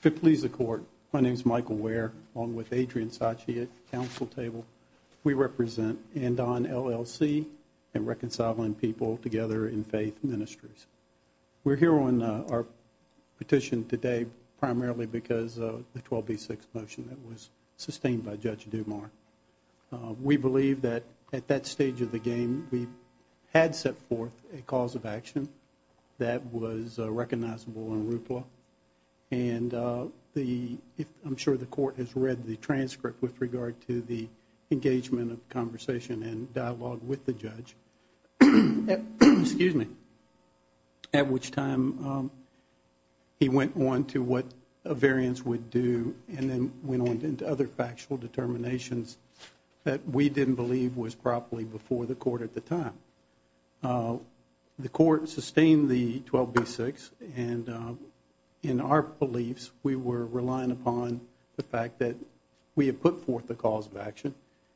If it pleases the Court, my name is Michael Ware along with Adrian Sachi at Council Table. We represent Andon, LLC and Reconciling People Together in Faith Ministries. We're here on our petition today primarily because of the 12B6 motion that was sustained by Judge Dumas. We believe that at that stage of the game we had set forth a cause of action that was recognizable in RUPLA and I'm sure the Court has read the transcript with regard to the engagement of conversation and dialogue with the Judge, at which time he went on to what a variance would do and then went on to other factual determinations that we didn't believe was properly before the Court at the time. The Court sustained the 12B6 and in our beliefs we were relying upon the fact that we had put forth a cause of action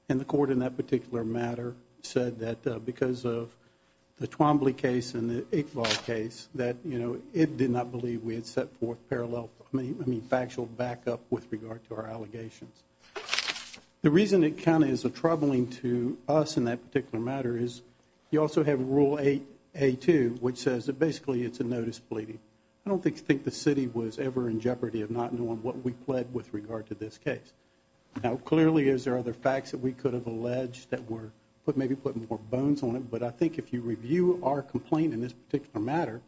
and the Court in that particular matter said that because of the Twombly case and the Iqbal case that it did not believe we had set forth factual backup with regard to our allegations. The reason it kind of is troubling to us in that particular matter is you also have Rule 8A2 which says that basically it's a notice pleading. I don't think the City was ever in jeopardy of not knowing what we pled with regard to this case. Now clearly there are other facts that we could have alleged that were maybe putting more bones on it, but I think if you review our complaint in this particular matter,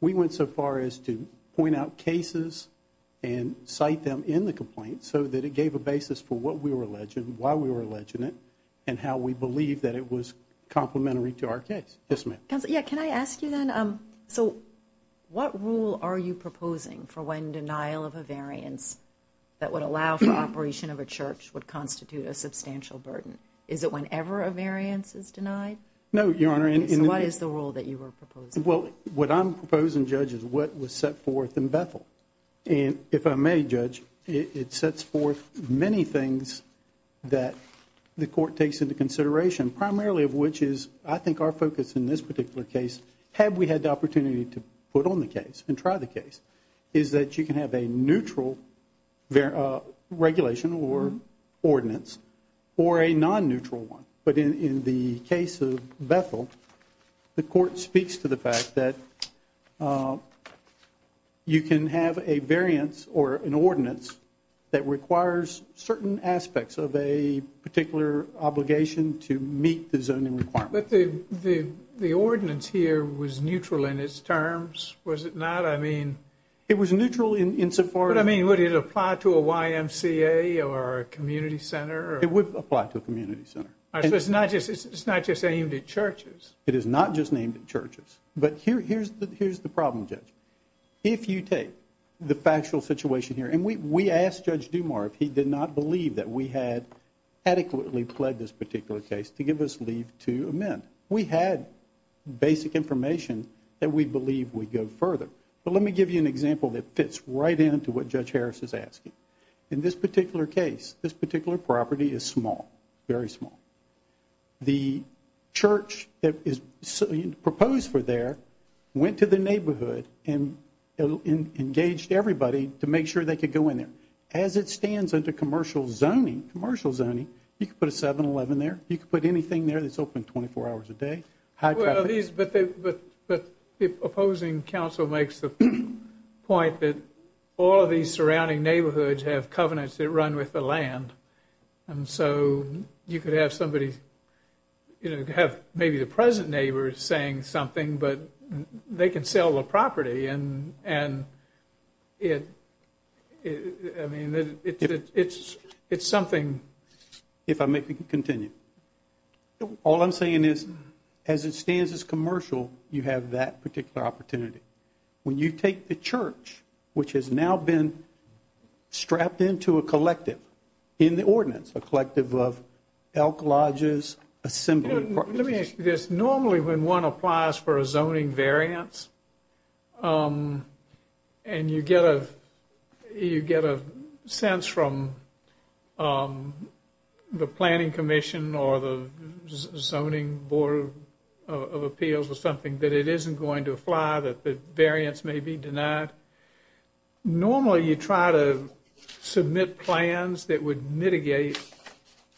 we went so far as to point out cases and cite them in the complaint so that it gave a basis for what we were alleging, why we were alleging it, and how we believed that it was complementary to our case. Yes, ma'am. Can I ask you then, so what rule are you proposing for when denial of a variance that would allow for operation of a church would constitute a substantial burden? Is it whenever a variance is denied? No, Your Honor. So what is the rule that you were proposing? Well, what I'm proposing, Judge, is what was set forth in Bethel, and if I may, Judge, it sets forth many things that the Court takes into consideration, primarily of which is I think our focus in this particular case, had we had the opportunity to put on the case and try the case, is that you can have a neutral regulation or ordinance or a non-neutral one, but in the case of Bethel, the Court speaks to the fact that you can have a variance or an ordinance that requires certain aspects of a particular obligation to meet the zoning requirement. But the ordinance here was neutral in its terms, was it not? I mean... It was neutral insofar as... But I mean, would it apply to a YMCA or a community center? It would apply to a community center. So it's not just aimed at churches? It is not just aimed at churches. But here's the problem, Judge. If you take the factual situation here, and we asked Judge Dumas if he did not believe that we had adequately pled this particular case to give us leave to amend. We had basic information that we believe would go further. But let me give you an example that fits right in to what Judge Harris is asking. In this particular case, this particular property is small, very small. The church that is proposed for there went to the neighborhood and engaged everybody to make sure they could go in there. As it stands under commercial zoning, commercial zoning, you could put a 7-11 there, you could put anything there that's open 24 hours a day, high traffic. But the opposing counsel makes the point that all of these surrounding neighborhoods have covenants that run with the land. And so you could have somebody, you know, have maybe the present neighbor saying something, but they can sell the property, and it's something... If I may continue. All I'm saying is, as it stands as commercial, you have that particular opportunity. When you take the church, which has now been strapped into a collective in the ordinance, a collective of elk lodges, assembly... Let me ask you this. Normally when one applies for a zoning variance, and you get a sense from the planning commission, or the zoning board of appeals or something, that it isn't going to apply, that the variance may be denied. Normally you try to submit plans that would mitigate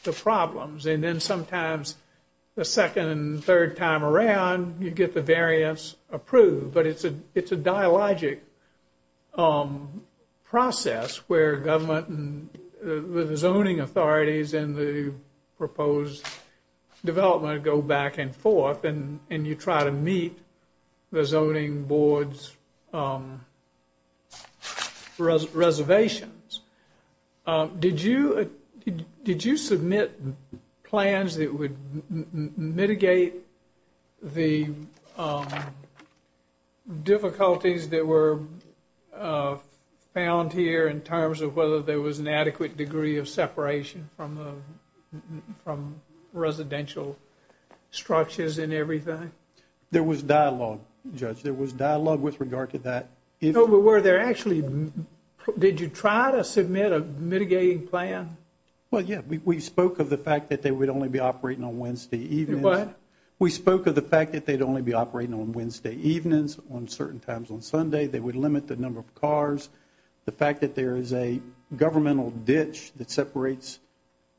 the problems, and then sometimes the second and third time around you get the variance approved. But it's a dialogic process where government and the zoning authorities and the proposed development go back and forth, and you try to meet the zoning board's reservations. Did you submit plans that would mitigate the difficulties that were found here in terms of whether there was an adequate degree of separation from residential structures and everything? There was dialogue, Judge. There was dialogue with regard to that. No, but were there actually... Did you try to submit a mitigating plan? Well, yeah. We spoke of the fact that they would only be operating on Wednesday evenings. What? We spoke of the fact that they'd only be operating on Wednesday evenings. On certain times on Sunday they would limit the number of cars. The fact that there is a governmental ditch that separates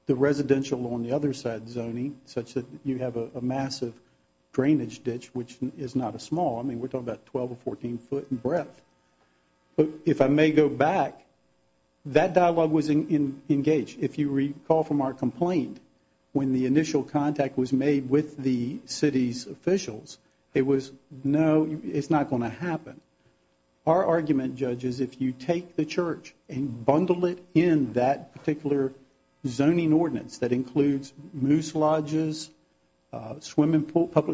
the residential on the other side zoning such that you have a massive drainage ditch, which is not a small... I mean, we're talking about 12 or 14 foot in breadth. But if I may go back, that dialogue was engaged. If you recall from our complaint, when the initial contact was made with the city's officials, it was, no, it's not going to happen. Our argument, Judge, is if you take the church and bundle it in that particular zoning ordinance that includes moose lodges, public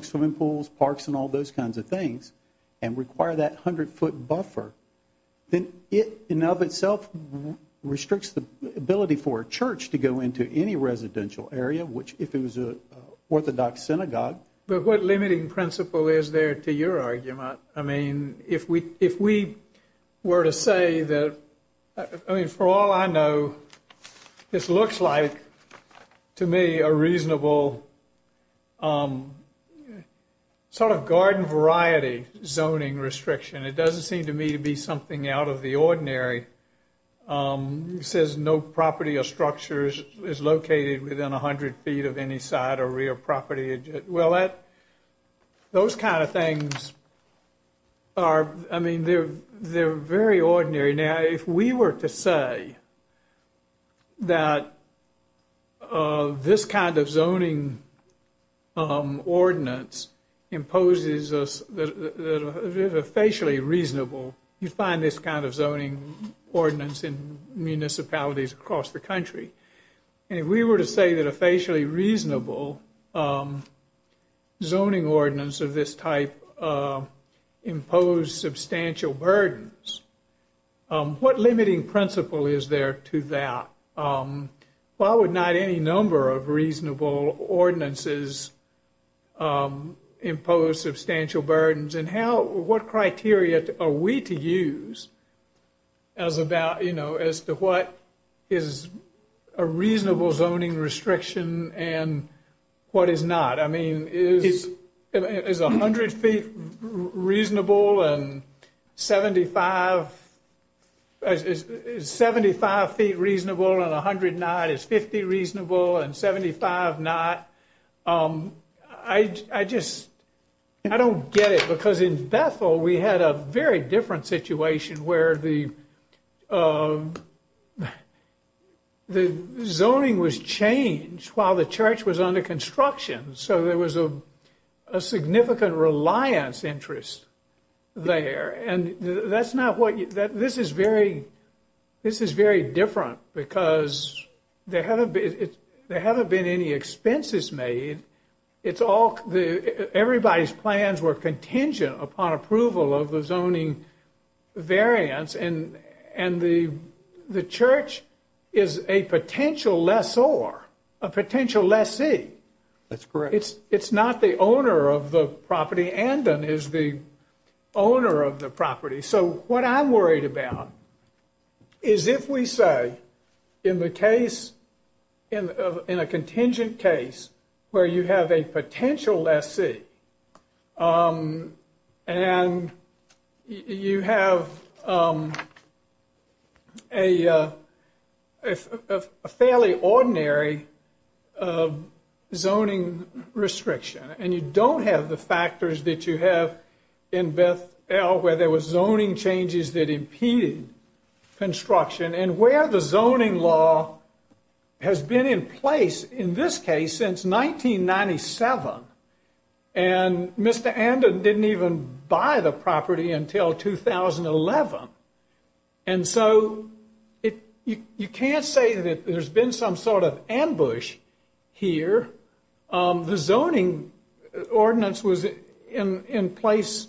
swimming pools, parks and all those kinds of things and require that 100 foot buffer, then it in and of itself restricts the ability for a church to go into any residential area, which if it was an orthodox synagogue... But what limiting principle is there to your argument? I mean, if we were to say that... I mean, for all I know, this looks like, to me, a reasonable sort of garden variety zoning restriction. It doesn't seem to me to be something out of the ordinary. It says no property or structure is located within 100 feet of any side or rear property. Well, those kind of things are, I mean, they're very ordinary. Now, if we were to say that this kind of zoning ordinance imposes a facially reasonable... You find this kind of zoning ordinance in municipalities across the country. And if we were to say that a facially reasonable zoning ordinance of this type imposed substantial burdens, what limiting principle is there to that? Why would not any number of reasonable ordinances impose substantial burdens? And what criteria are we to use as to what is a reasonable zoning restriction and what is not? I mean, is 100 feet reasonable and 75 feet reasonable and 100 not? Is 50 reasonable and 75 not? I just... I don't get it. Because in Bethel, we had a very different situation where the zoning was changed while the church was under construction. So there was a significant reliance interest there. And that's not what... This is very different because there haven't been any expenses made. It's all... Everybody's plans were contingent upon approval of the zoning variance. And the church is a potential lessor, a potential lessee. That's correct. It's not the owner of the property. Andan is the owner of the property. So what I'm worried about is if we say in the case... In a contingent case where you have a potential lessee and you have a fairly ordinary zoning restriction and you don't have the factors that you have in Bethel where there was zoning changes that impeded construction and where the zoning law has been in place in this case since 1997. And Mr. Andan didn't even buy the property until 2011. And so you can't say that there's been some sort of ambush here. The zoning ordinance was in place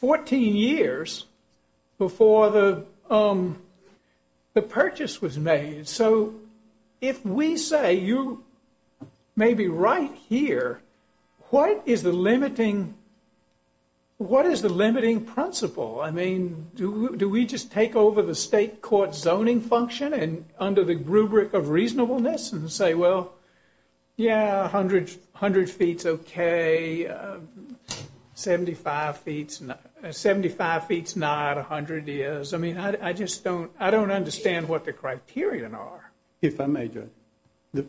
14 years before the purchase was made. So if we say you may be right here, what is the limiting principle? I mean, do we just take over the state court zoning function under the rubric of reasonableness and say, well, yeah, 100 feet's okay, 75 feet's not, 100 is. I mean, I just don't understand what the criteria are. If I may, Judge,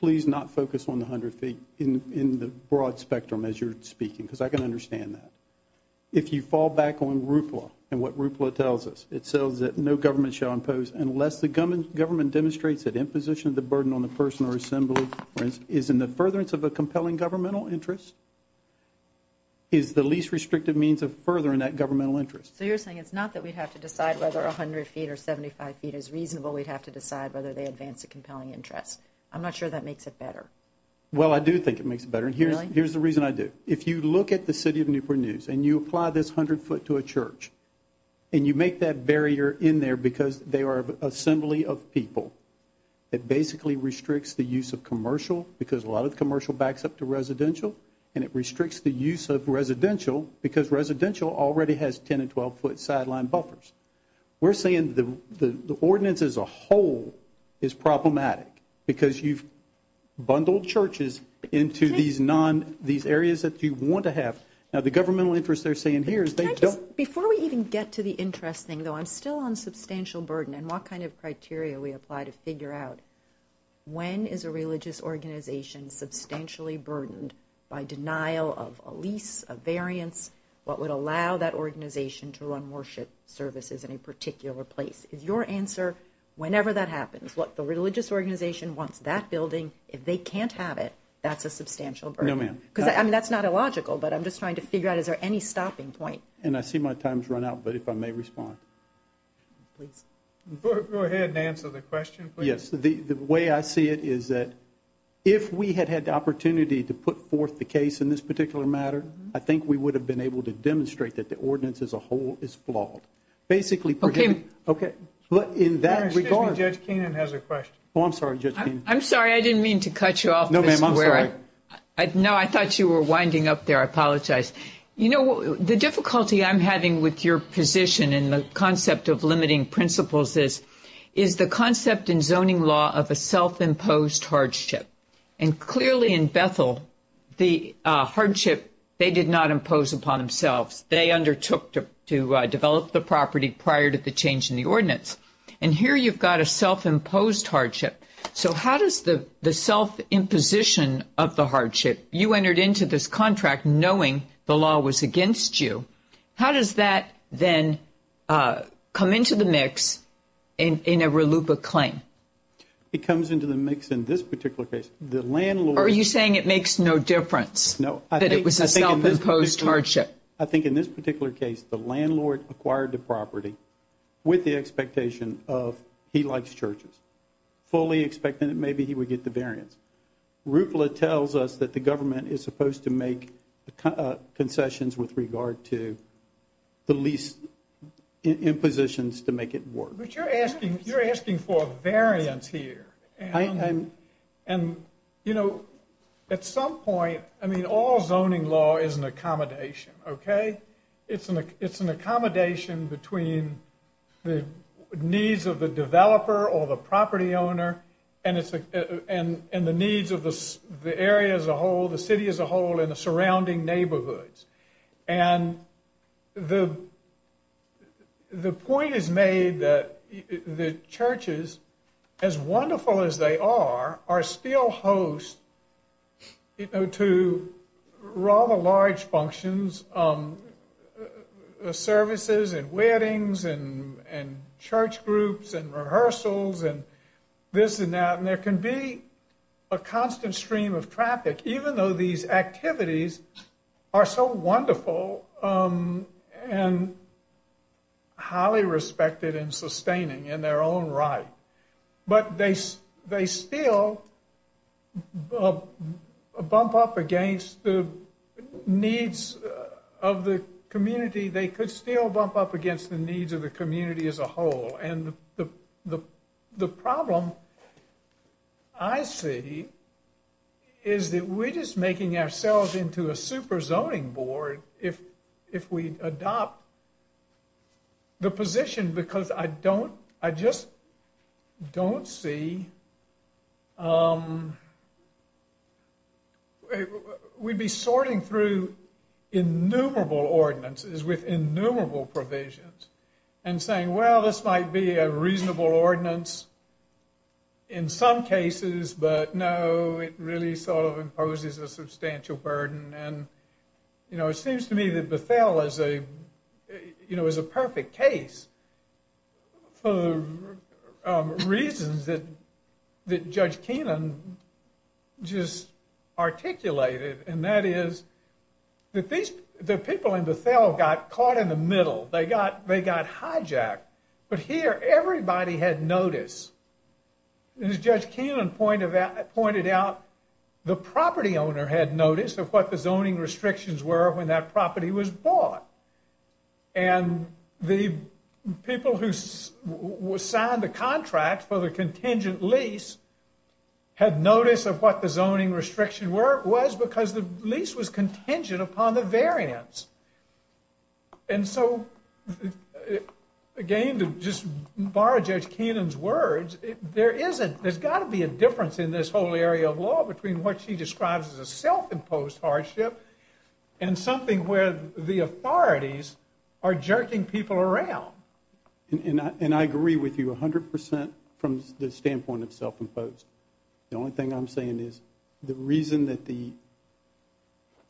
please not focus on the 100 feet in the broad spectrum as you're speaking because I can understand that. If you fall back on RUPLA and what RUPLA tells us, it says that no government shall impose unless the government demonstrates that imposition of the burden on the person or assembly is in the furtherance of a compelling governmental interest, is the least restrictive means of furthering that governmental interest. So you're saying it's not that we have to decide whether 100 feet or 75 feet is reasonable. We'd have to decide whether they advance a compelling interest. I'm not sure that makes it better. Well, I do think it makes it better. Really? Here's the reason I do. If you look at the City of Newport News and you apply this 100 foot to a church and you make that barrier in there because they are an assembly of people, it basically restricts the use of commercial because a lot of commercial backs up to residential and it restricts the use of residential because residential already has 10 and 12 foot sideline buffers. We're saying the ordinance as a whole is problematic because you've bundled churches into these areas that you want to have. Now, the governmental interest they're saying here is they don't. Before we even get to the interest thing, though, I'm still on substantial burden and what kind of criteria we apply to figure out when is a religious organization substantially burdened by denial of a lease, a variance, what would allow that organization to run worship services in a particular place. Is your answer whenever that happens, look, the religious organization wants that building. If they can't have it, that's a substantial burden. No, ma'am. I mean, that's not illogical, but I'm just trying to figure out is there any stopping point. And I see my time's run out, but if I may respond. Please. Go ahead and answer the question, please. Yes. The way I see it is that if we had had the opportunity to put forth the case in this particular matter, I think we would have been able to demonstrate that the ordinance as a whole is flawed. Okay. But in that regard. Excuse me. Judge Keenan has a question. Oh, I'm sorry, Judge Keenan. I'm sorry. I didn't mean to cut you off. No, ma'am. I'm sorry. No, I thought you were winding up there. I apologize. You know, the difficulty I'm having with your position in the concept of limiting principles is the concept in zoning law of a self-imposed hardship. And clearly in Bethel, the hardship they did not impose upon themselves. They undertook to develop the property prior to the change in the ordinance. And here you've got a self-imposed hardship. So how does the self-imposition of the hardship, you entered into this contract knowing the law was against you, how does that then come into the mix in a RLUIPA claim? It comes into the mix in this particular case. The landlord. Are you saying it makes no difference that it was a self-imposed hardship? Yes. I think in this particular case the landlord acquired the property with the expectation of he likes churches, fully expecting that maybe he would get the variance. RUPLA tells us that the government is supposed to make concessions with regard to the least impositions to make it work. But you're asking for a variance here. And, you know, at some point, I mean, all zoning law is an accommodation, okay? It's an accommodation between the needs of the developer or the property owner and the needs of the area as a whole, the city as a whole, and the surrounding neighborhoods. And the point is made that the churches, as wonderful as they are, are still hosts to rather large functions, services and weddings and church groups and rehearsals and this and that, and there can be a constant stream of traffic even though these activities are so wonderful and highly respected and sustaining in their own right. But they still bump up against the needs of the community. They could still bump up against the needs of the community as a whole. And the problem I see is that we're just making ourselves into a super zoning board if we adopt the position because I just don't see... We'd be sorting through innumerable ordinances with innumerable provisions and saying, well, this might be a reasonable ordinance in some cases, but no, it really sort of imposes a substantial burden. And, you know, it seems to me that Bethel is a perfect case for the reasons that Judge Keenan just articulated, and that is that the people in Bethel got caught in the middle. They got hijacked. But here, everybody had notice. As Judge Keenan pointed out, the property owner had notice of what the zoning restrictions were when that property was bought. And the people who signed the contract for the contingent lease had notice of what the zoning restriction was because the lease was contingent upon the variance. And so, again, to just borrow Judge Keenan's words, there's got to be a difference in this whole area of law between what she describes as a self-imposed hardship and something where the authorities are jerking people around. And I agree with you 100% from the standpoint of self-imposed. The only thing I'm saying is the reason that the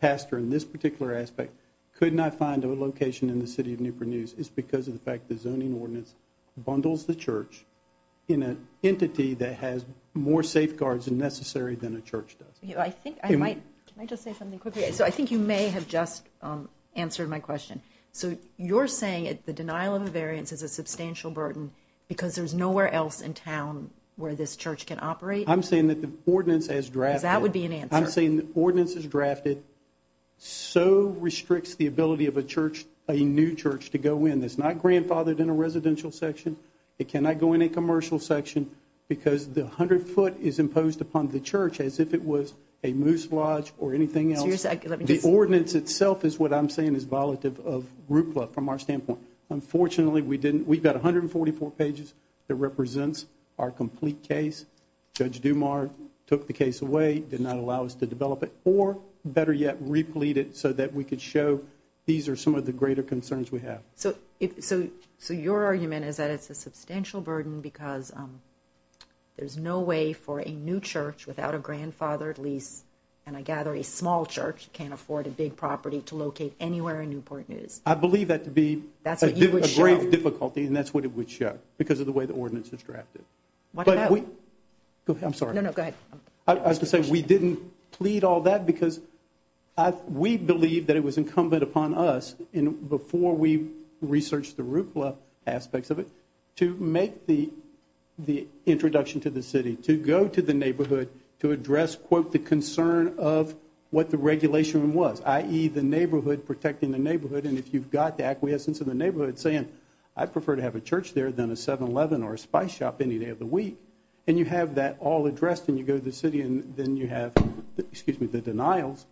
pastor in this particular aspect could not find a location in the city of Newport News is because of the fact the zoning ordinance bundles the church in an entity that has more safeguards necessary than a church does. Can I just say something quickly? So I think you may have just answered my question. So you're saying that the denial of a variance is a substantial burden because there's nowhere else in town where this church can operate? I'm saying that the ordinance as drafted. Because that would be an answer. I'm saying the ordinance as drafted so restricts the ability of a church, a new church, to go in. It's not grandfathered in a residential section. It cannot go in a commercial section because the 100 foot is imposed upon the church as if it was a moose lodge or anything else. The ordinance itself is what I'm saying is violative of root blood from our standpoint. Unfortunately, we didn't. We've got 144 pages that represents our complete case. Judge Dumar took the case away, did not allow us to develop it, or better yet replete it so that we could show these are some of the greater concerns we have. So your argument is that it's a substantial burden because there's no way for a new church without a grandfathered lease, and I gather a small church can't afford a big property to locate anywhere in Newport News. I believe that to be a great difficulty, and that's what it would show because of the way the ordinance is drafted. Go ahead. I'm sorry. No, no, go ahead. I was going to say we didn't plead all that because we believe that it was incumbent upon us before we researched the root blood aspects of it to make the introduction to the city, to go to the neighborhood to address, quote, the concern of what the regulation was, i.e., the neighborhood, protecting the neighborhood, and if you've got the acquiescence of the neighborhood saying, I prefer to have a church there than a 7-Eleven or a spice shop any day of the week, and you have that all addressed and you go to the city and then you have the denials,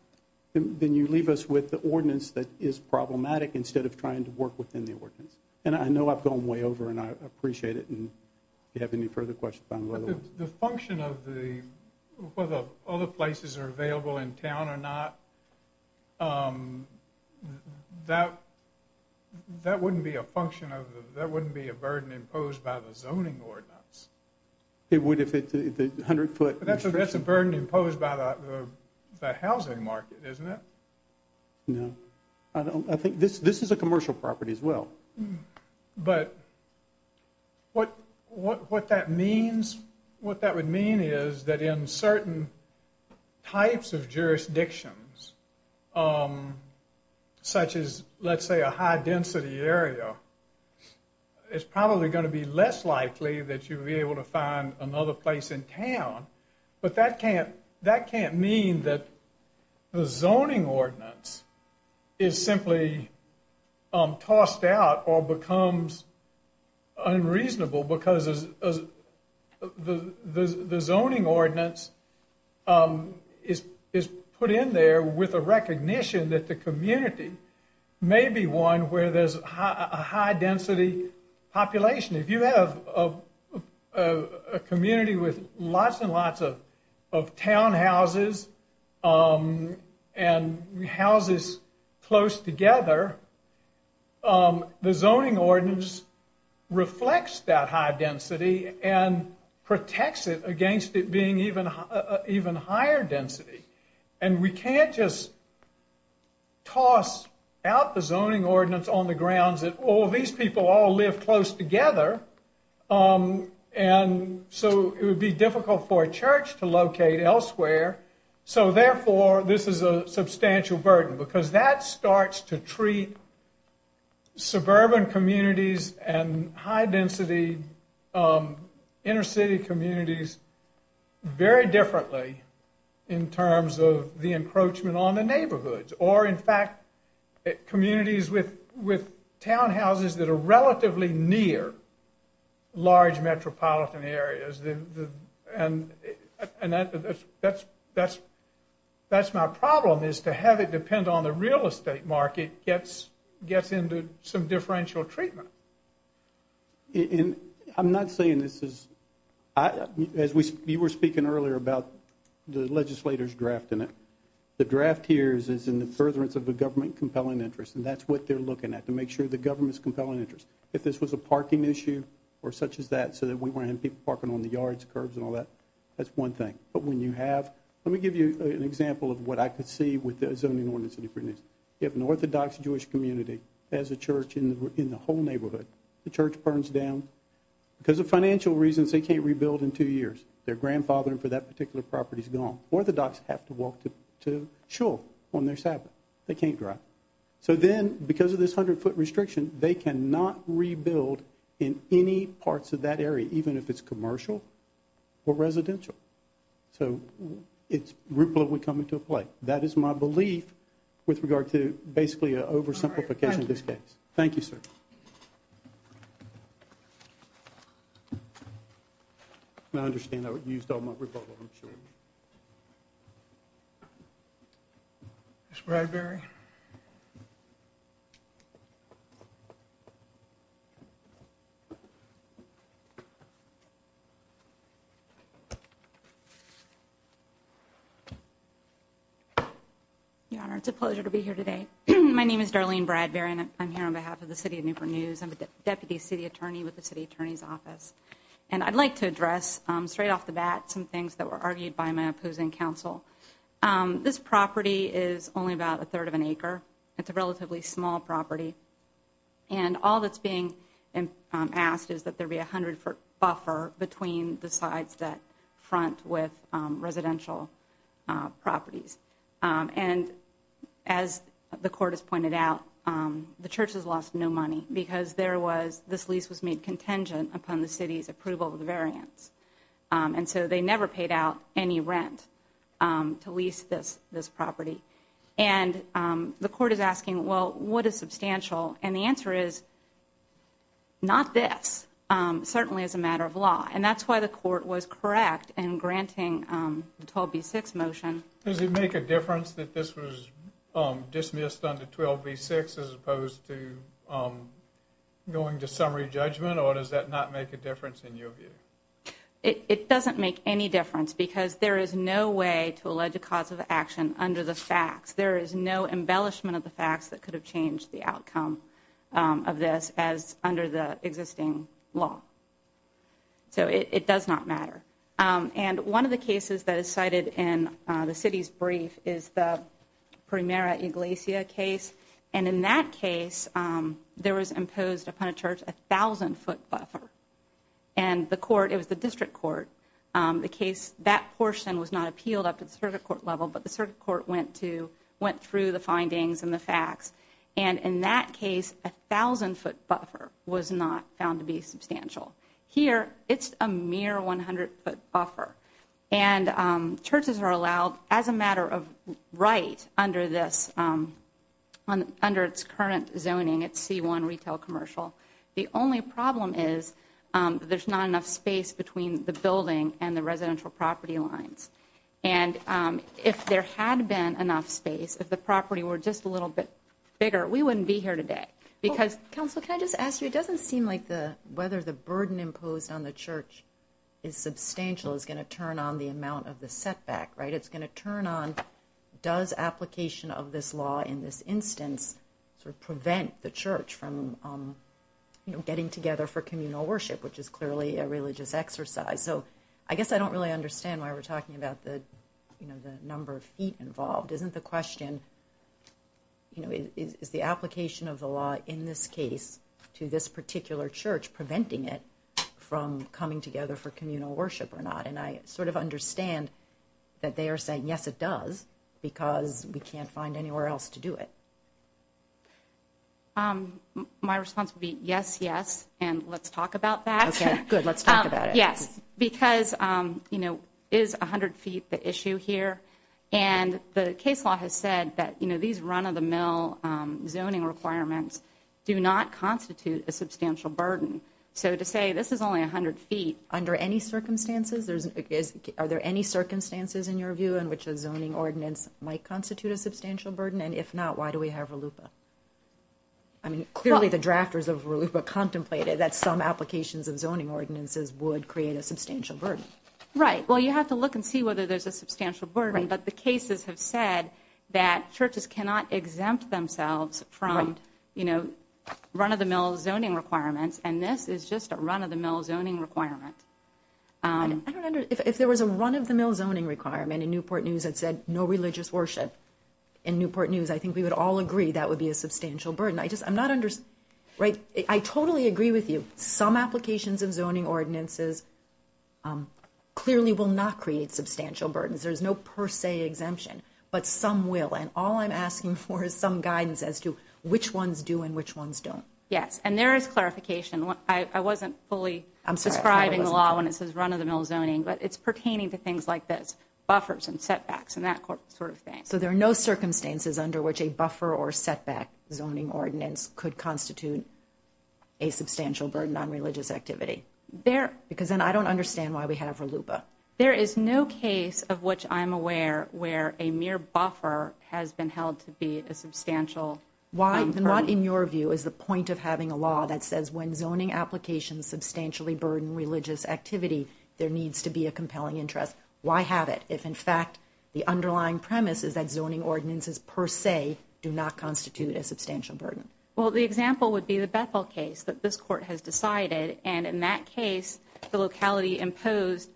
then you leave us with the ordinance that is problematic instead of trying to work within the ordinance. And I know I've gone way over, and I appreciate it. And if you have any further questions. The function of whether other places are available in town or not, that wouldn't be a burden imposed by the zoning ordinance. It would if it's 100-foot. That's a burden imposed by the housing market, isn't it? No. I think this is a commercial property as well. But what that means, what that would mean is that in certain types of jurisdictions, such as, let's say, a high-density area, it's probably going to be less likely that you'll be able to find another place in town. But that can't mean that the zoning ordinance is simply tossed out or becomes unreasonable because the zoning ordinance is put in there with a recognition that the community may be one where there's a high-density population. If you have a community with lots and lots of townhouses and houses close together, the zoning ordinance reflects that high density and protects it against it being even higher density. We can't just toss out the zoning ordinance on the grounds that, well, these people all live close together, and so it would be difficult for a church to locate elsewhere. Therefore, this is a substantial burden because that starts to treat suburban communities and high-density inner-city communities very differently in terms of the encroachment on the neighborhoods or, in fact, communities with townhouses that are relatively near large metropolitan areas. And that's my problem is to have it depend on the real estate market gets into some differential treatment. And I'm not saying this is, as you were speaking earlier about the legislators drafting it, the draft here is in the furtherance of the government compelling interest, and that's what they're looking at to make sure the government's compelling interest. If this was a parking issue or such as that so that we wouldn't have people parking on the yards, curbs, and all that, that's one thing. But when you have – let me give you an example of what I could see with the zoning ordinance. If an Orthodox Jewish community has a church in the whole neighborhood, the church burns down because of financial reasons they can't rebuild in two years. Their grandfathering for that particular property is gone. Orthodox have to walk to shul on their Sabbath. They can't drive. So then, because of this 100-foot restriction, they cannot rebuild in any parts of that area, even if it's commercial or residential. So it's – RUPLA would come into play. That is my belief with regard to basically an oversimplification of this case. Thank you, sir. I understand I used all my RUPLA, I'm sure. Thank you. Ms. Bradbury. Your Honor, it's a pleasure to be here today. My name is Darlene Bradbury, and I'm here on behalf of the City of Newport News. I'm the Deputy City Attorney with the City Attorney's Office. And I'd like to address straight off the bat some things that were argued by my opposing counsel. This property is only about a third of an acre. It's a relatively small property. And all that's being asked is that there be a 100-foot buffer between the sides that front with residential properties. And as the court has pointed out, the church has lost no money because there was – this lease was made contingent upon the city's approval of the variance. And so they never paid out any rent to lease this property. And the court is asking, well, what is substantial? And the answer is, not this, certainly as a matter of law. And that's why the court was correct in granting the 12b-6 motion. Does it make a difference that this was dismissed under 12b-6 as opposed to going to summary judgment? Or does that not make a difference in your view? It doesn't make any difference because there is no way to allege a cause of action under the facts. There is no embellishment of the facts that could have changed the outcome of this as under the existing law. So it does not matter. And one of the cases that is cited in the city's brief is the Primera Iglesia case. And in that case, there was imposed upon a church a 1,000-foot buffer. And the court – it was the district court – the case – that portion was not appealed up to the circuit court level, but the circuit court went to – went through the findings and the facts. And in that case, a 1,000-foot buffer was not found to be substantial. Here, it's a mere 100-foot buffer. And churches are allowed, as a matter of right, under this – under its current zoning, its C-1 retail commercial. The only problem is there's not enough space between the building and the residential property lines. And if there had been enough space, if the property were just a little bit bigger, we wouldn't be here today. Because – Counsel, can I just ask you? It doesn't seem like the – whether the burden imposed on the church is substantial is going to turn on the amount of the setback, right? It's going to turn on does application of this law in this instance sort of prevent the church from, you know, getting together for communal worship, which is clearly a religious exercise. So I guess I don't really understand why we're talking about the, you know, the number of feet involved. Isn't the question, you know, is the application of the law in this case to this particular church preventing it from coming together for communal worship or not? And I sort of understand that they are saying, yes, it does, because we can't find anywhere else to do it. My response would be yes, yes, and let's talk about that. Okay, good. Let's talk about it. Yes, because, you know, is 100 feet the issue here? And the case law has said that, you know, these run-of-the-mill zoning requirements do not constitute a substantial burden. So to say this is only 100 feet under any circumstances, there's – are there any circumstances in your view in which a zoning ordinance might constitute a substantial burden? And if not, why do we have RLUIPA? I mean, clearly the drafters of RLUIPA contemplated that some applications of zoning ordinances would create a substantial burden. Right. Well, you have to look and see whether there's a substantial burden. But the cases have said that churches cannot exempt themselves from, you know, run-of-the-mill zoning requirements, and this is just a run-of-the-mill zoning requirement. I don't understand. If there was a run-of-the-mill zoning requirement in Newport News that said no religious worship, in Newport News, I think we would all agree that would be a substantial burden. I just – I'm not – right? I totally agree with you. Some applications of zoning ordinances clearly will not create substantial burdens. There's no per se exemption, but some will. And all I'm asking for is some guidance as to which ones do and which ones don't. Yes, and there is clarification. I wasn't fully describing the law when it says run-of-the-mill zoning, but it's pertaining to things like this, buffers and setbacks and that sort of thing. So there are no circumstances under which a buffer or setback zoning ordinance could constitute a substantial burden on religious activity? There – Because then I don't understand why we have RLUBA. There is no case of which I'm aware where a mere buffer has been held to be a substantial burden. Why not, in your view, is the point of having a law that says when zoning applications substantially burden religious activity, there needs to be a compelling interest. Why have it if, in fact, the underlying premise is that zoning ordinances per se do not constitute a substantial burden? Well, the example would be the Bethel case that this Court has decided. And in that case, the locality imposed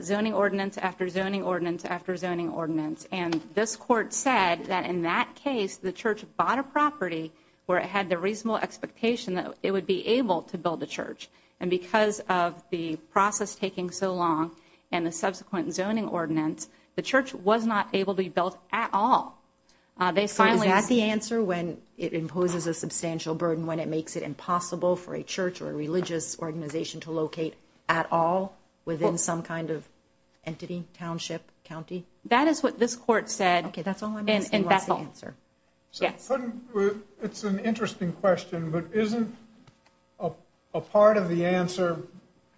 zoning ordinance after zoning ordinance after zoning ordinance. And this Court said that in that case, the church bought a property where it had the reasonable expectation that it would be able to build a church. And because of the process taking so long and the subsequent zoning ordinance, the church was not able to be built at all. They finally – So is that the answer when it imposes a substantial burden when it makes it impossible for a church or a religious organization to locate at all within some kind of entity, township, county? That is what this Court said in Bethel. Okay, that's all I'm asking. What's the answer? Yes. It's an interesting question, but isn't a part of the answer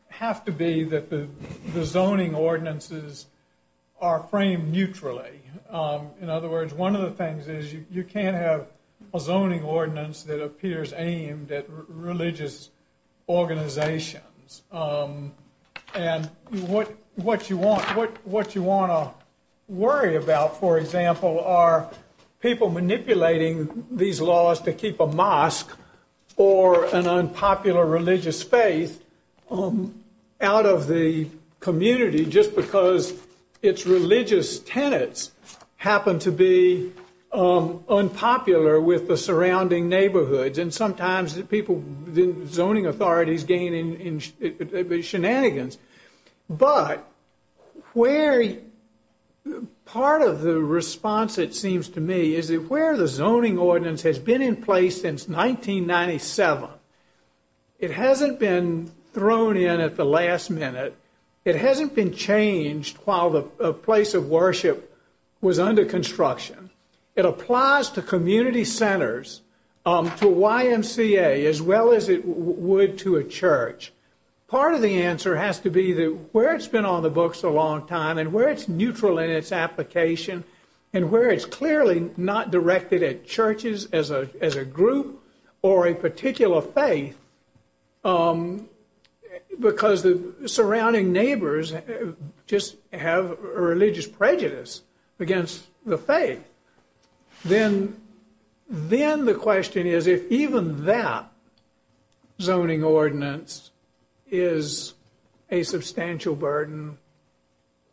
have to be that the zoning ordinances are framed neutrally? In other words, one of the things is you can't have a zoning ordinance that appears aimed at religious organizations. And what you want to worry about, for example, are people manipulating these laws to keep a mosque or an unpopular religious faith out of the community just because its religious tenets happen to be unpopular with the surrounding neighborhoods. And sometimes the zoning authorities gain in shenanigans. But part of the response, it seems to me, is that where the zoning ordinance has been in place since 1997, it hasn't been thrown in at the last minute. It hasn't been changed while the place of worship was under construction. It applies to community centers, to YMCA, as well as it would to a church. Part of the answer has to be that where it's been on the books a long time and where it's neutral in its application and where it's clearly not directed at churches as a group or a particular faith because the surrounding neighbors just have religious prejudice against the faith, then the question is if even that zoning ordinance is a substantial burden,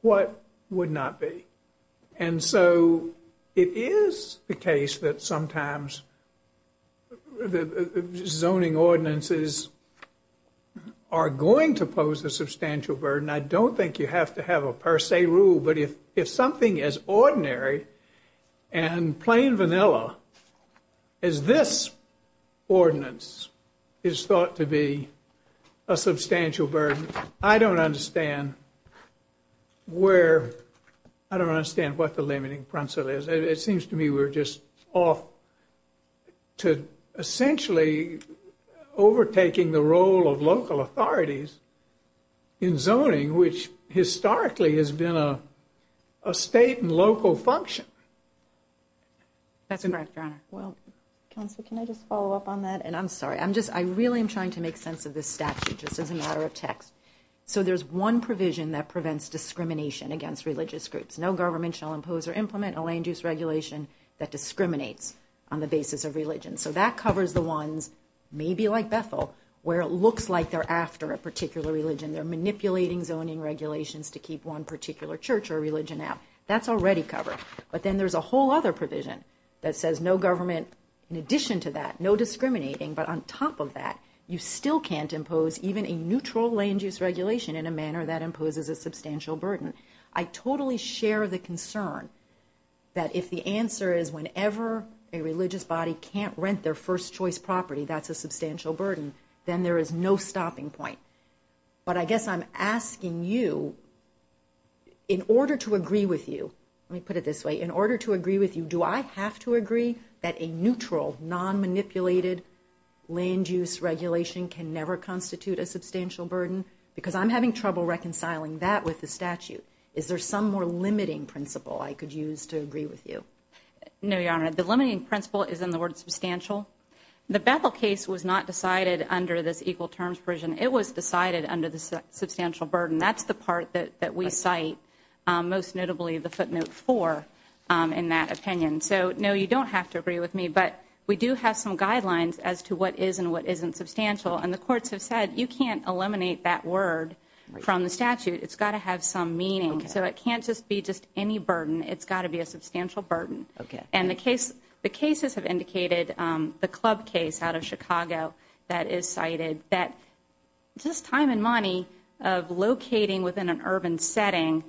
what would not be? And so it is the case that sometimes zoning ordinances are going to pose a substantial burden. I don't think you have to have a per se rule, but if something as ordinary and plain vanilla as this ordinance is thought to be a substantial burden, I don't understand what the limiting principle is. It seems to me we're just off to essentially overtaking the role of local authorities in zoning, which historically has been a state and local function. That's incorrect, Your Honor. Well, Counselor, can I just follow up on that? And I'm sorry. I really am trying to make sense of this statute just as a matter of text. So there's one provision that prevents discrimination against religious groups. No government shall impose or implement a land use regulation that discriminates on the basis of religion. So that covers the ones, maybe like Bethel, where it looks like they're after a particular religion, they're manipulating zoning regulations to keep one particular church or religion out. That's already covered. But then there's a whole other provision that says no government in addition to that, no discriminating, but on top of that, you still can't impose even a neutral land use regulation in a manner that imposes a substantial burden. I totally share the concern that if the answer is whenever a religious body can't rent their first choice property, that's a substantial burden, then there is no stopping point. But I guess I'm asking you, in order to agree with you, let me put it this way, in order to agree with you, do I have to agree that a neutral, non-manipulated land use regulation can never constitute a substantial burden? Because I'm having trouble reconciling that with the statute. Is there some more limiting principle I could use to agree with you? No, Your Honor. The limiting principle is in the word substantial. The Bethel case was not decided under this equal terms provision. It was decided under the substantial burden. That's the part that we cite, most notably the footnote 4 in that opinion. So, no, you don't have to agree with me. But we do have some guidelines as to what is and what isn't substantial. And the courts have said you can't eliminate that word from the statute. It's got to have some meaning. So it can't just be just any burden. It's got to be a substantial burden. And the cases have indicated, the club case out of Chicago that is cited, that just time and money of locating within an urban setting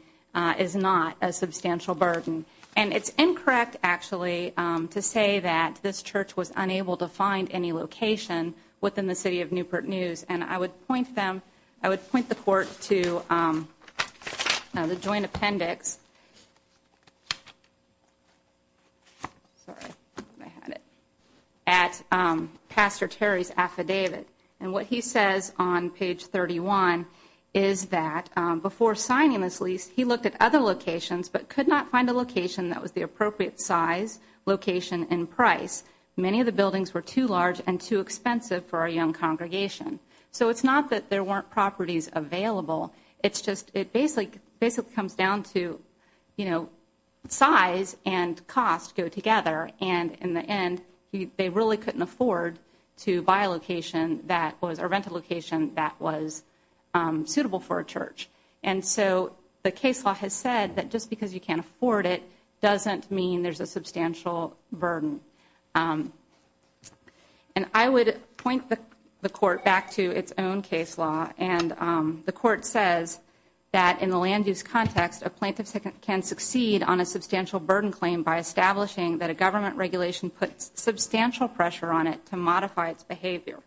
is not a substantial burden. And it's incorrect, actually, to say that this church was unable to find any location within the city of Newport News. And I would point them, I would point the court to the joint appendix at Pastor Terry's affidavit. And what he says on page 31 is that before signing this lease, he looked at other locations but could not find a location that was the appropriate size, location, and price. Many of the buildings were too large and too expensive for a young congregation. So it's not that there weren't properties available. It's just it basically comes down to, you know, size and cost go together. And in the end, they really couldn't afford to buy a location that was or rent a location that was suitable for a church. And so the case law has said that just because you can't afford it doesn't mean there's a substantial burden. And I would point the court back to its own case law, and the court says that in the land use context, a plaintiff can succeed on a substantial burden claim by establishing that a government regulation puts substantial pressure on it to modify its behavior.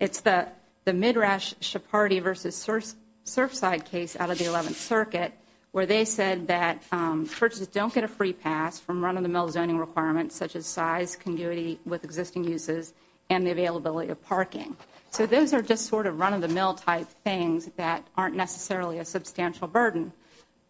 It's the Midrash-Shapardi v. Surfside case out of the 11th Circuit where they said that churches don't get a free pass from run-of-the-mill zoning requirements such as size, community with existing uses, and the availability of parking. So those are just sort of run-of-the-mill type things that aren't necessarily a substantial burden.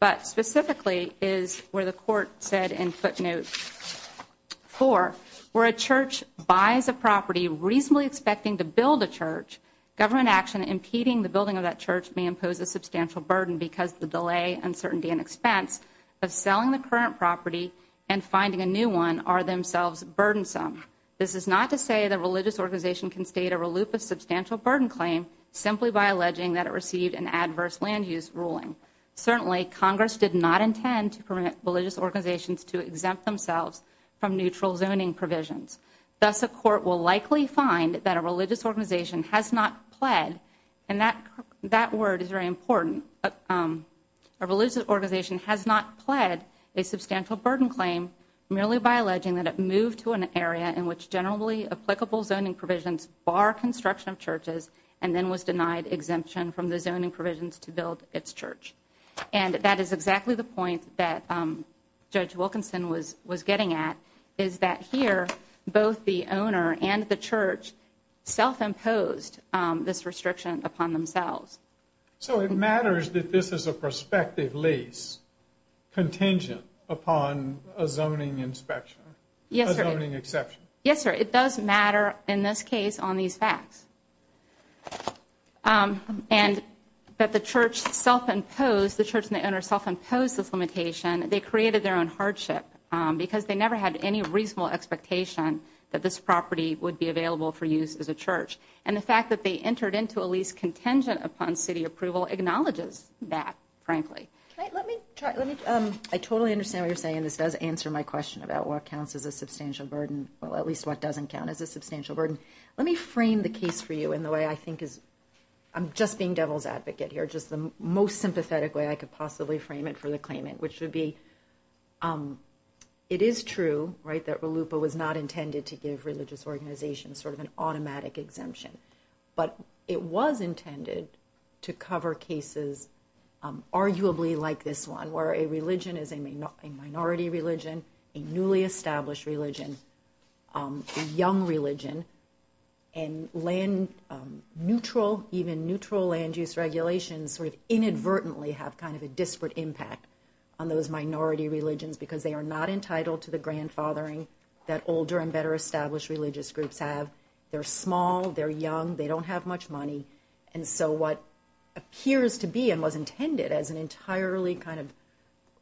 But specifically is where the court said in footnote 4, where a church buys a property reasonably expecting to build a church, government action impeding the building of that church may impose a substantial burden because the delay, uncertainty, and expense of selling the current property and finding a new one are themselves burdensome. This is not to say that a religious organization can state a reluctant substantial burden claim simply by alleging that it received an adverse land use ruling. Certainly, Congress did not intend to permit religious organizations to exempt themselves from neutral zoning provisions. Thus, a court will likely find that a religious organization has not pled, and that word is very important, a religious organization has not pled a substantial burden claim merely by alleging that it moved to an area in which generally applicable zoning provisions bar construction of churches and then was denied exemption from the zoning provisions to build its church. And that is exactly the point that Judge Wilkinson was getting at, is that here both the owner and the church self-imposed this restriction upon themselves. So it matters that this is a prospective lease contingent upon a zoning inspection? Yes, sir. A zoning exception? Yes, sir. It does matter in this case on these facts. And that the church self-imposed, the church and the owner self-imposed this limitation, they created their own hardship because they never had any reasonable expectation that this property would be available for use as a church. And the fact that they entered into a lease contingent upon city approval acknowledges that, frankly. I totally understand what you're saying. This does answer my question about what counts as a substantial burden, or at least what doesn't count as a substantial burden. Let me frame the case for you in the way I think is, I'm just being devil's advocate here, just the most sympathetic way I could possibly frame it for the claimant, which would be it is true that RLUIPA was not intended to give religious organizations sort of an automatic exemption. But it was intended to cover cases arguably like this one, where a religion is a minority religion, a newly established religion, a young religion, and even neutral land use regulations sort of inadvertently have kind of a disparate impact on those minority religions because they are not entitled to the grandfathering that older and better established religious groups have. They're small, they're young, they don't have much money. And so what appears to be and was intended as an entirely kind of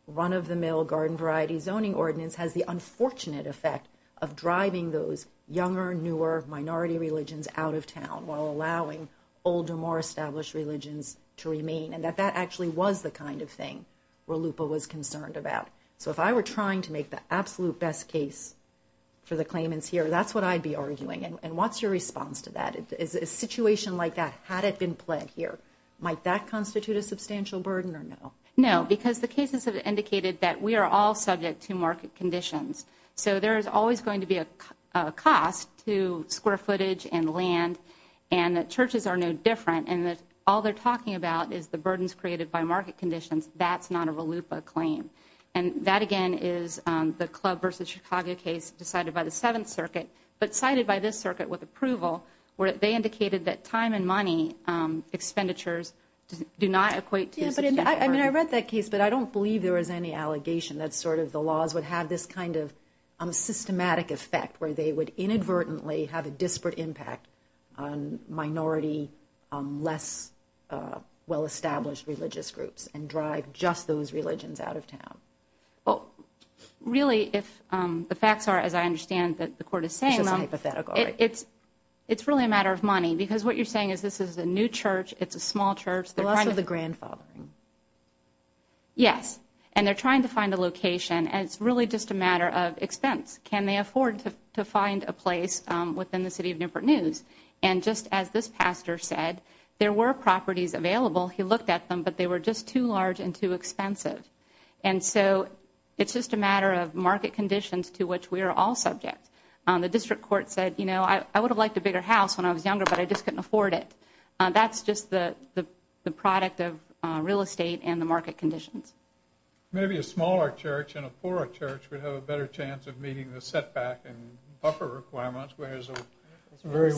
run-of-the-mill garden variety zoning ordinance has the unfortunate effect of driving those younger, newer minority religions out of town while allowing older, more established religions to remain. And that that actually was the kind of thing RLUIPA was concerned about. So if I were trying to make the absolute best case for the claimants here, that's what I'd be arguing. And what's your response to that? A situation like that, had it been pled here, might that constitute a substantial burden or no? No, because the cases have indicated that we are all subject to market conditions. So there is always going to be a cost to square footage and land, and that churches are no different, and that all they're talking about is the burdens created by market conditions. That's not a RLUIPA claim. And that, again, is the Club versus Chicago case decided by the Seventh Circuit, but cited by this circuit with approval where they indicated that time and money expenditures do not equate to substantial burden. I mean, I read that case, but I don't believe there was any allegation that sort of the laws would have this kind of systematic effect where they would inadvertently have a disparate impact on minority, less well-established religious groups and drive just those religions out of town. Well, really, if the facts are, as I understand that the court is saying, it's really a matter of money, because what you're saying is this is a new church, it's a small church. The loss of the grandfathering. Yes. And they're trying to find a location, and it's really just a matter of expense. Can they afford to find a place within the city of Newport News? And just as this pastor said, there were properties available. He looked at them, but they were just too large and too expensive. And so it's just a matter of market conditions to which we are all subject. The district court said, you know, I would have liked a bigger house when I was younger, but I just couldn't afford it. That's just the product of real estate and the market conditions. Maybe a smaller church and a poorer church would have a better chance of meeting the setback and buffer requirements, whereas a very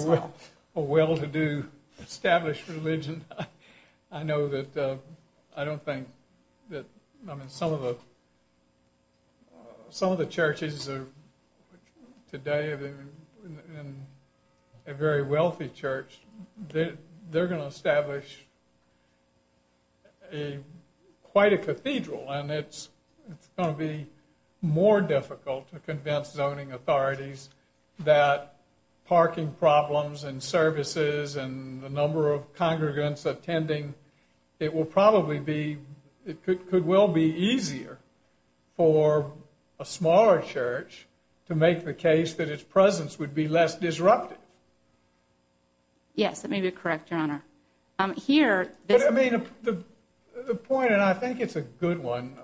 well-to-do, established religion, I know that I don't think that, I mean, some of the churches today, in a very wealthy church, they're going to establish quite a cathedral, and it's going to be more difficult to convince zoning authorities that parking problems and services and the number of congregants attending, it will probably be, it could well be easier for a smaller church to make the case that its presence would be less disruptive. Yes, that may be correct, Your Honor. I mean, the point, and I think it's a good one,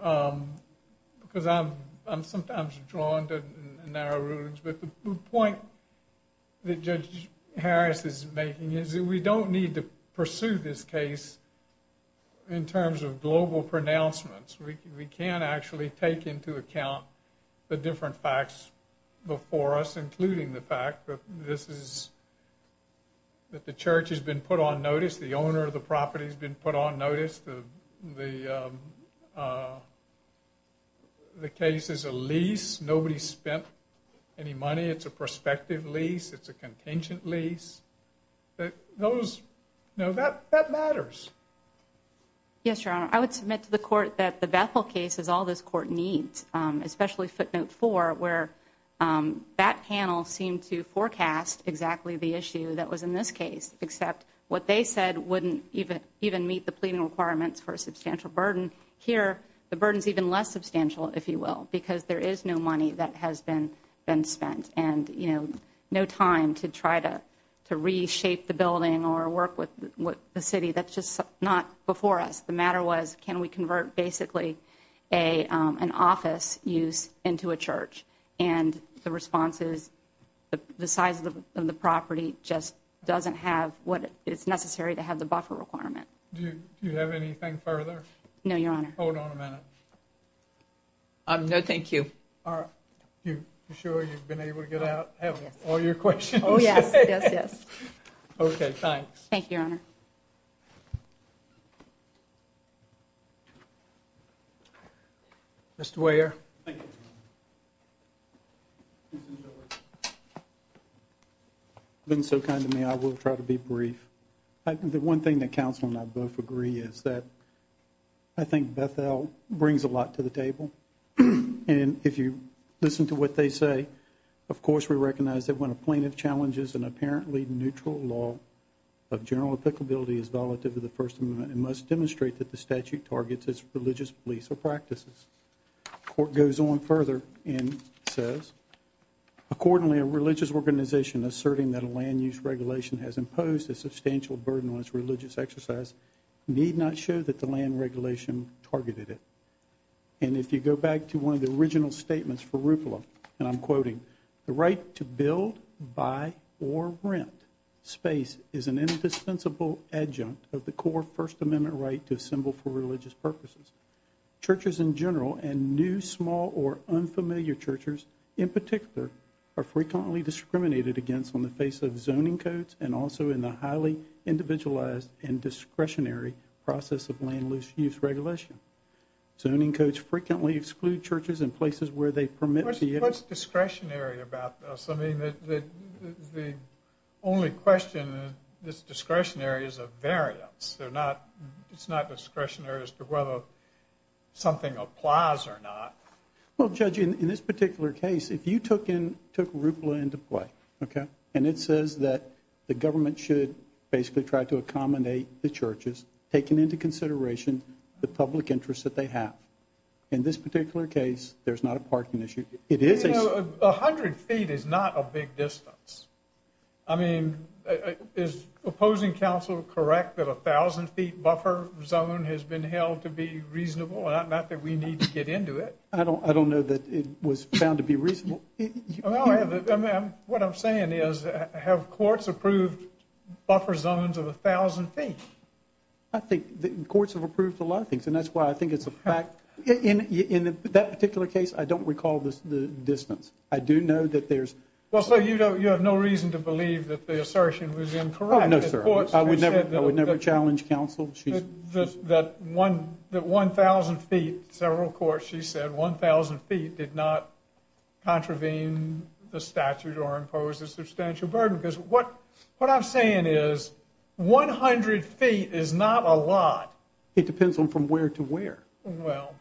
because I'm sometimes drawn to narrow rulings, but the point that Judge Harris is making is that we don't need to pursue this case in terms of global pronouncements. We can actually take into account the different facts before us, including the fact that this is, that the church has been put on notice, the owner of the property has been put on notice, the case is a lease, nobody spent any money, it's a prospective lease, it's a contingent lease. Those, you know, that matters. Yes, Your Honor, I would submit to the Court that the Bethel case is all this Court needs, especially footnote four, where that panel seemed to forecast exactly the issue that was in this case, except what they said wouldn't even meet the pleading requirements for a substantial burden. Here, the burden is even less substantial, if you will, because there is no money that has been spent and, you know, no time to try to reshape the building or work with the city. That's just not before us. The matter was, can we convert basically an office use into a church? And the response is the size of the property just doesn't have what is necessary to have the buffer requirement. Do you have anything further? No, Your Honor. Hold on a minute. No, thank you. Are you sure you've been able to get out and have all your questions? Oh, yes, yes, yes. Okay, thanks. Thank you, Your Honor. Mr. Weyer. Thank you. You've been so kind to me, I will try to be brief. The one thing that counsel and I both agree is that I think Bethel brings a lot to the table. And if you listen to what they say, of course, we recognize that when a plaintiff challenges an apparently neutral law of general applicability as volatile to the First Amendment, it must demonstrate that the statute targets its religious beliefs or practices. The court goes on further and says, accordingly, a religious organization asserting that a land use regulation has imposed a substantial burden on its religious exercise need not show that the land regulation targeted it. And if you go back to one of the original statements for Rufalo, and I'm quoting, the right to build, buy, or rent space is an indispensable adjunct of the core First Amendment right to assemble for religious purposes. Churches in general and new, small, or unfamiliar churches in particular are frequently discriminated against on the face of zoning codes and also in the highly individualized and discretionary process of land use regulation. Zoning codes frequently exclude churches in places where they permit the... What's discretionary about this? I mean, the only question is discretionary is a variance. It's not discretionary as to whether something applies or not. Well, Judge, in this particular case, if you took Rufalo into play, okay, and it says that the government should basically try to accommodate the churches, taking into consideration the public interest that they have. In this particular case, there's not a parking issue. You know, 100 feet is not a big distance. I mean, is opposing counsel correct that a 1,000-feet buffer zone has been held to be reasonable, not that we need to get into it? I don't know that it was found to be reasonable. What I'm saying is have courts approved buffer zones of 1,000 feet? I think courts have approved a lot of things, and that's why I think it's a fact. In that particular case, I don't recall the distance. I do know that there's... Well, sir, you have no reason to believe that the assertion was incorrect. No, sir. I would never challenge counsel. That 1,000 feet, several courts, she said 1,000 feet did not contravene the statute or impose a substantial burden because what I'm saying is 100 feet is not a lot. It depends on from where to where. Well...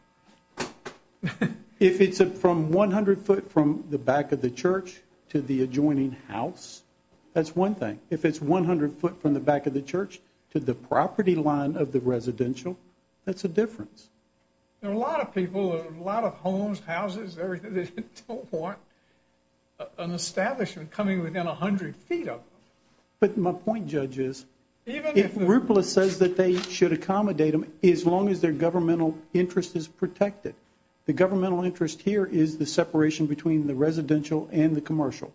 If it's from 100 foot from the back of the church to the adjoining house, that's one thing. If it's 100 foot from the back of the church to the property line of the residential, that's a difference. There are a lot of people, a lot of homes, houses, everything, that don't want an establishment coming within 100 feet of them. But my point, Judge, is if RUPLA says that they should accommodate them, as long as their governmental interest is protected, the governmental interest here is the separation between the residential and the commercial.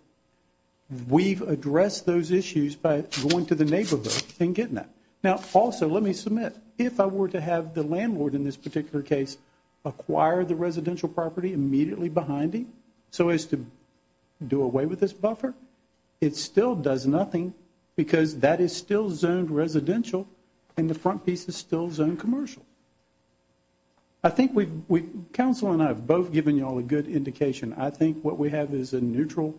We've addressed those issues by going to the neighborhood and getting that. Now, also, let me submit, if I were to have the landlord in this particular case acquire the residential property immediately behind him so as to do away with this buffer, it still does nothing because that is still zoned residential and the front piece is still zoned commercial. I think we've, counsel and I have both given you all a good indication. I think what we have is a neutral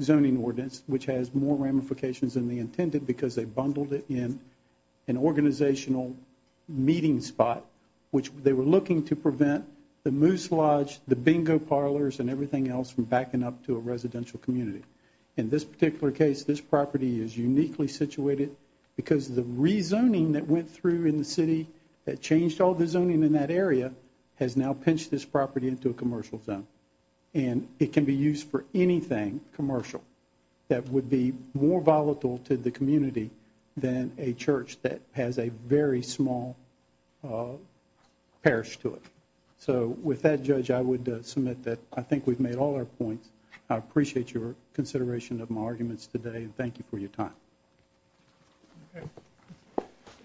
zoning ordinance, which has more ramifications than they intended because they bundled it in an organizational meeting spot, which they were looking to prevent the Moose Lodge, the bingo parlors, and everything else from backing up to a residential community. In this particular case, this property is uniquely situated because the rezoning that went through in the city that changed all the zoning in that area has now pinched this property into a commercial zone, and it can be used for anything commercial that would be more volatile to the community than a church that has a very small parish to it. So with that, Judge, I would submit that I think we've made all our points. I appreciate your consideration of my arguments today, and thank you for your time.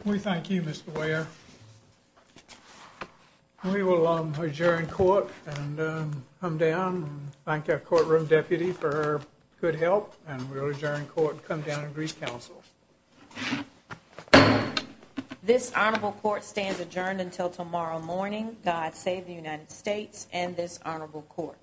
We thank you, Mr. Weyer. We will adjourn court and come down and thank our courtroom deputy for her good help, and we will adjourn court and come down and recounsel. This honorable court stands adjourned until tomorrow morning. God save the United States and this honorable court.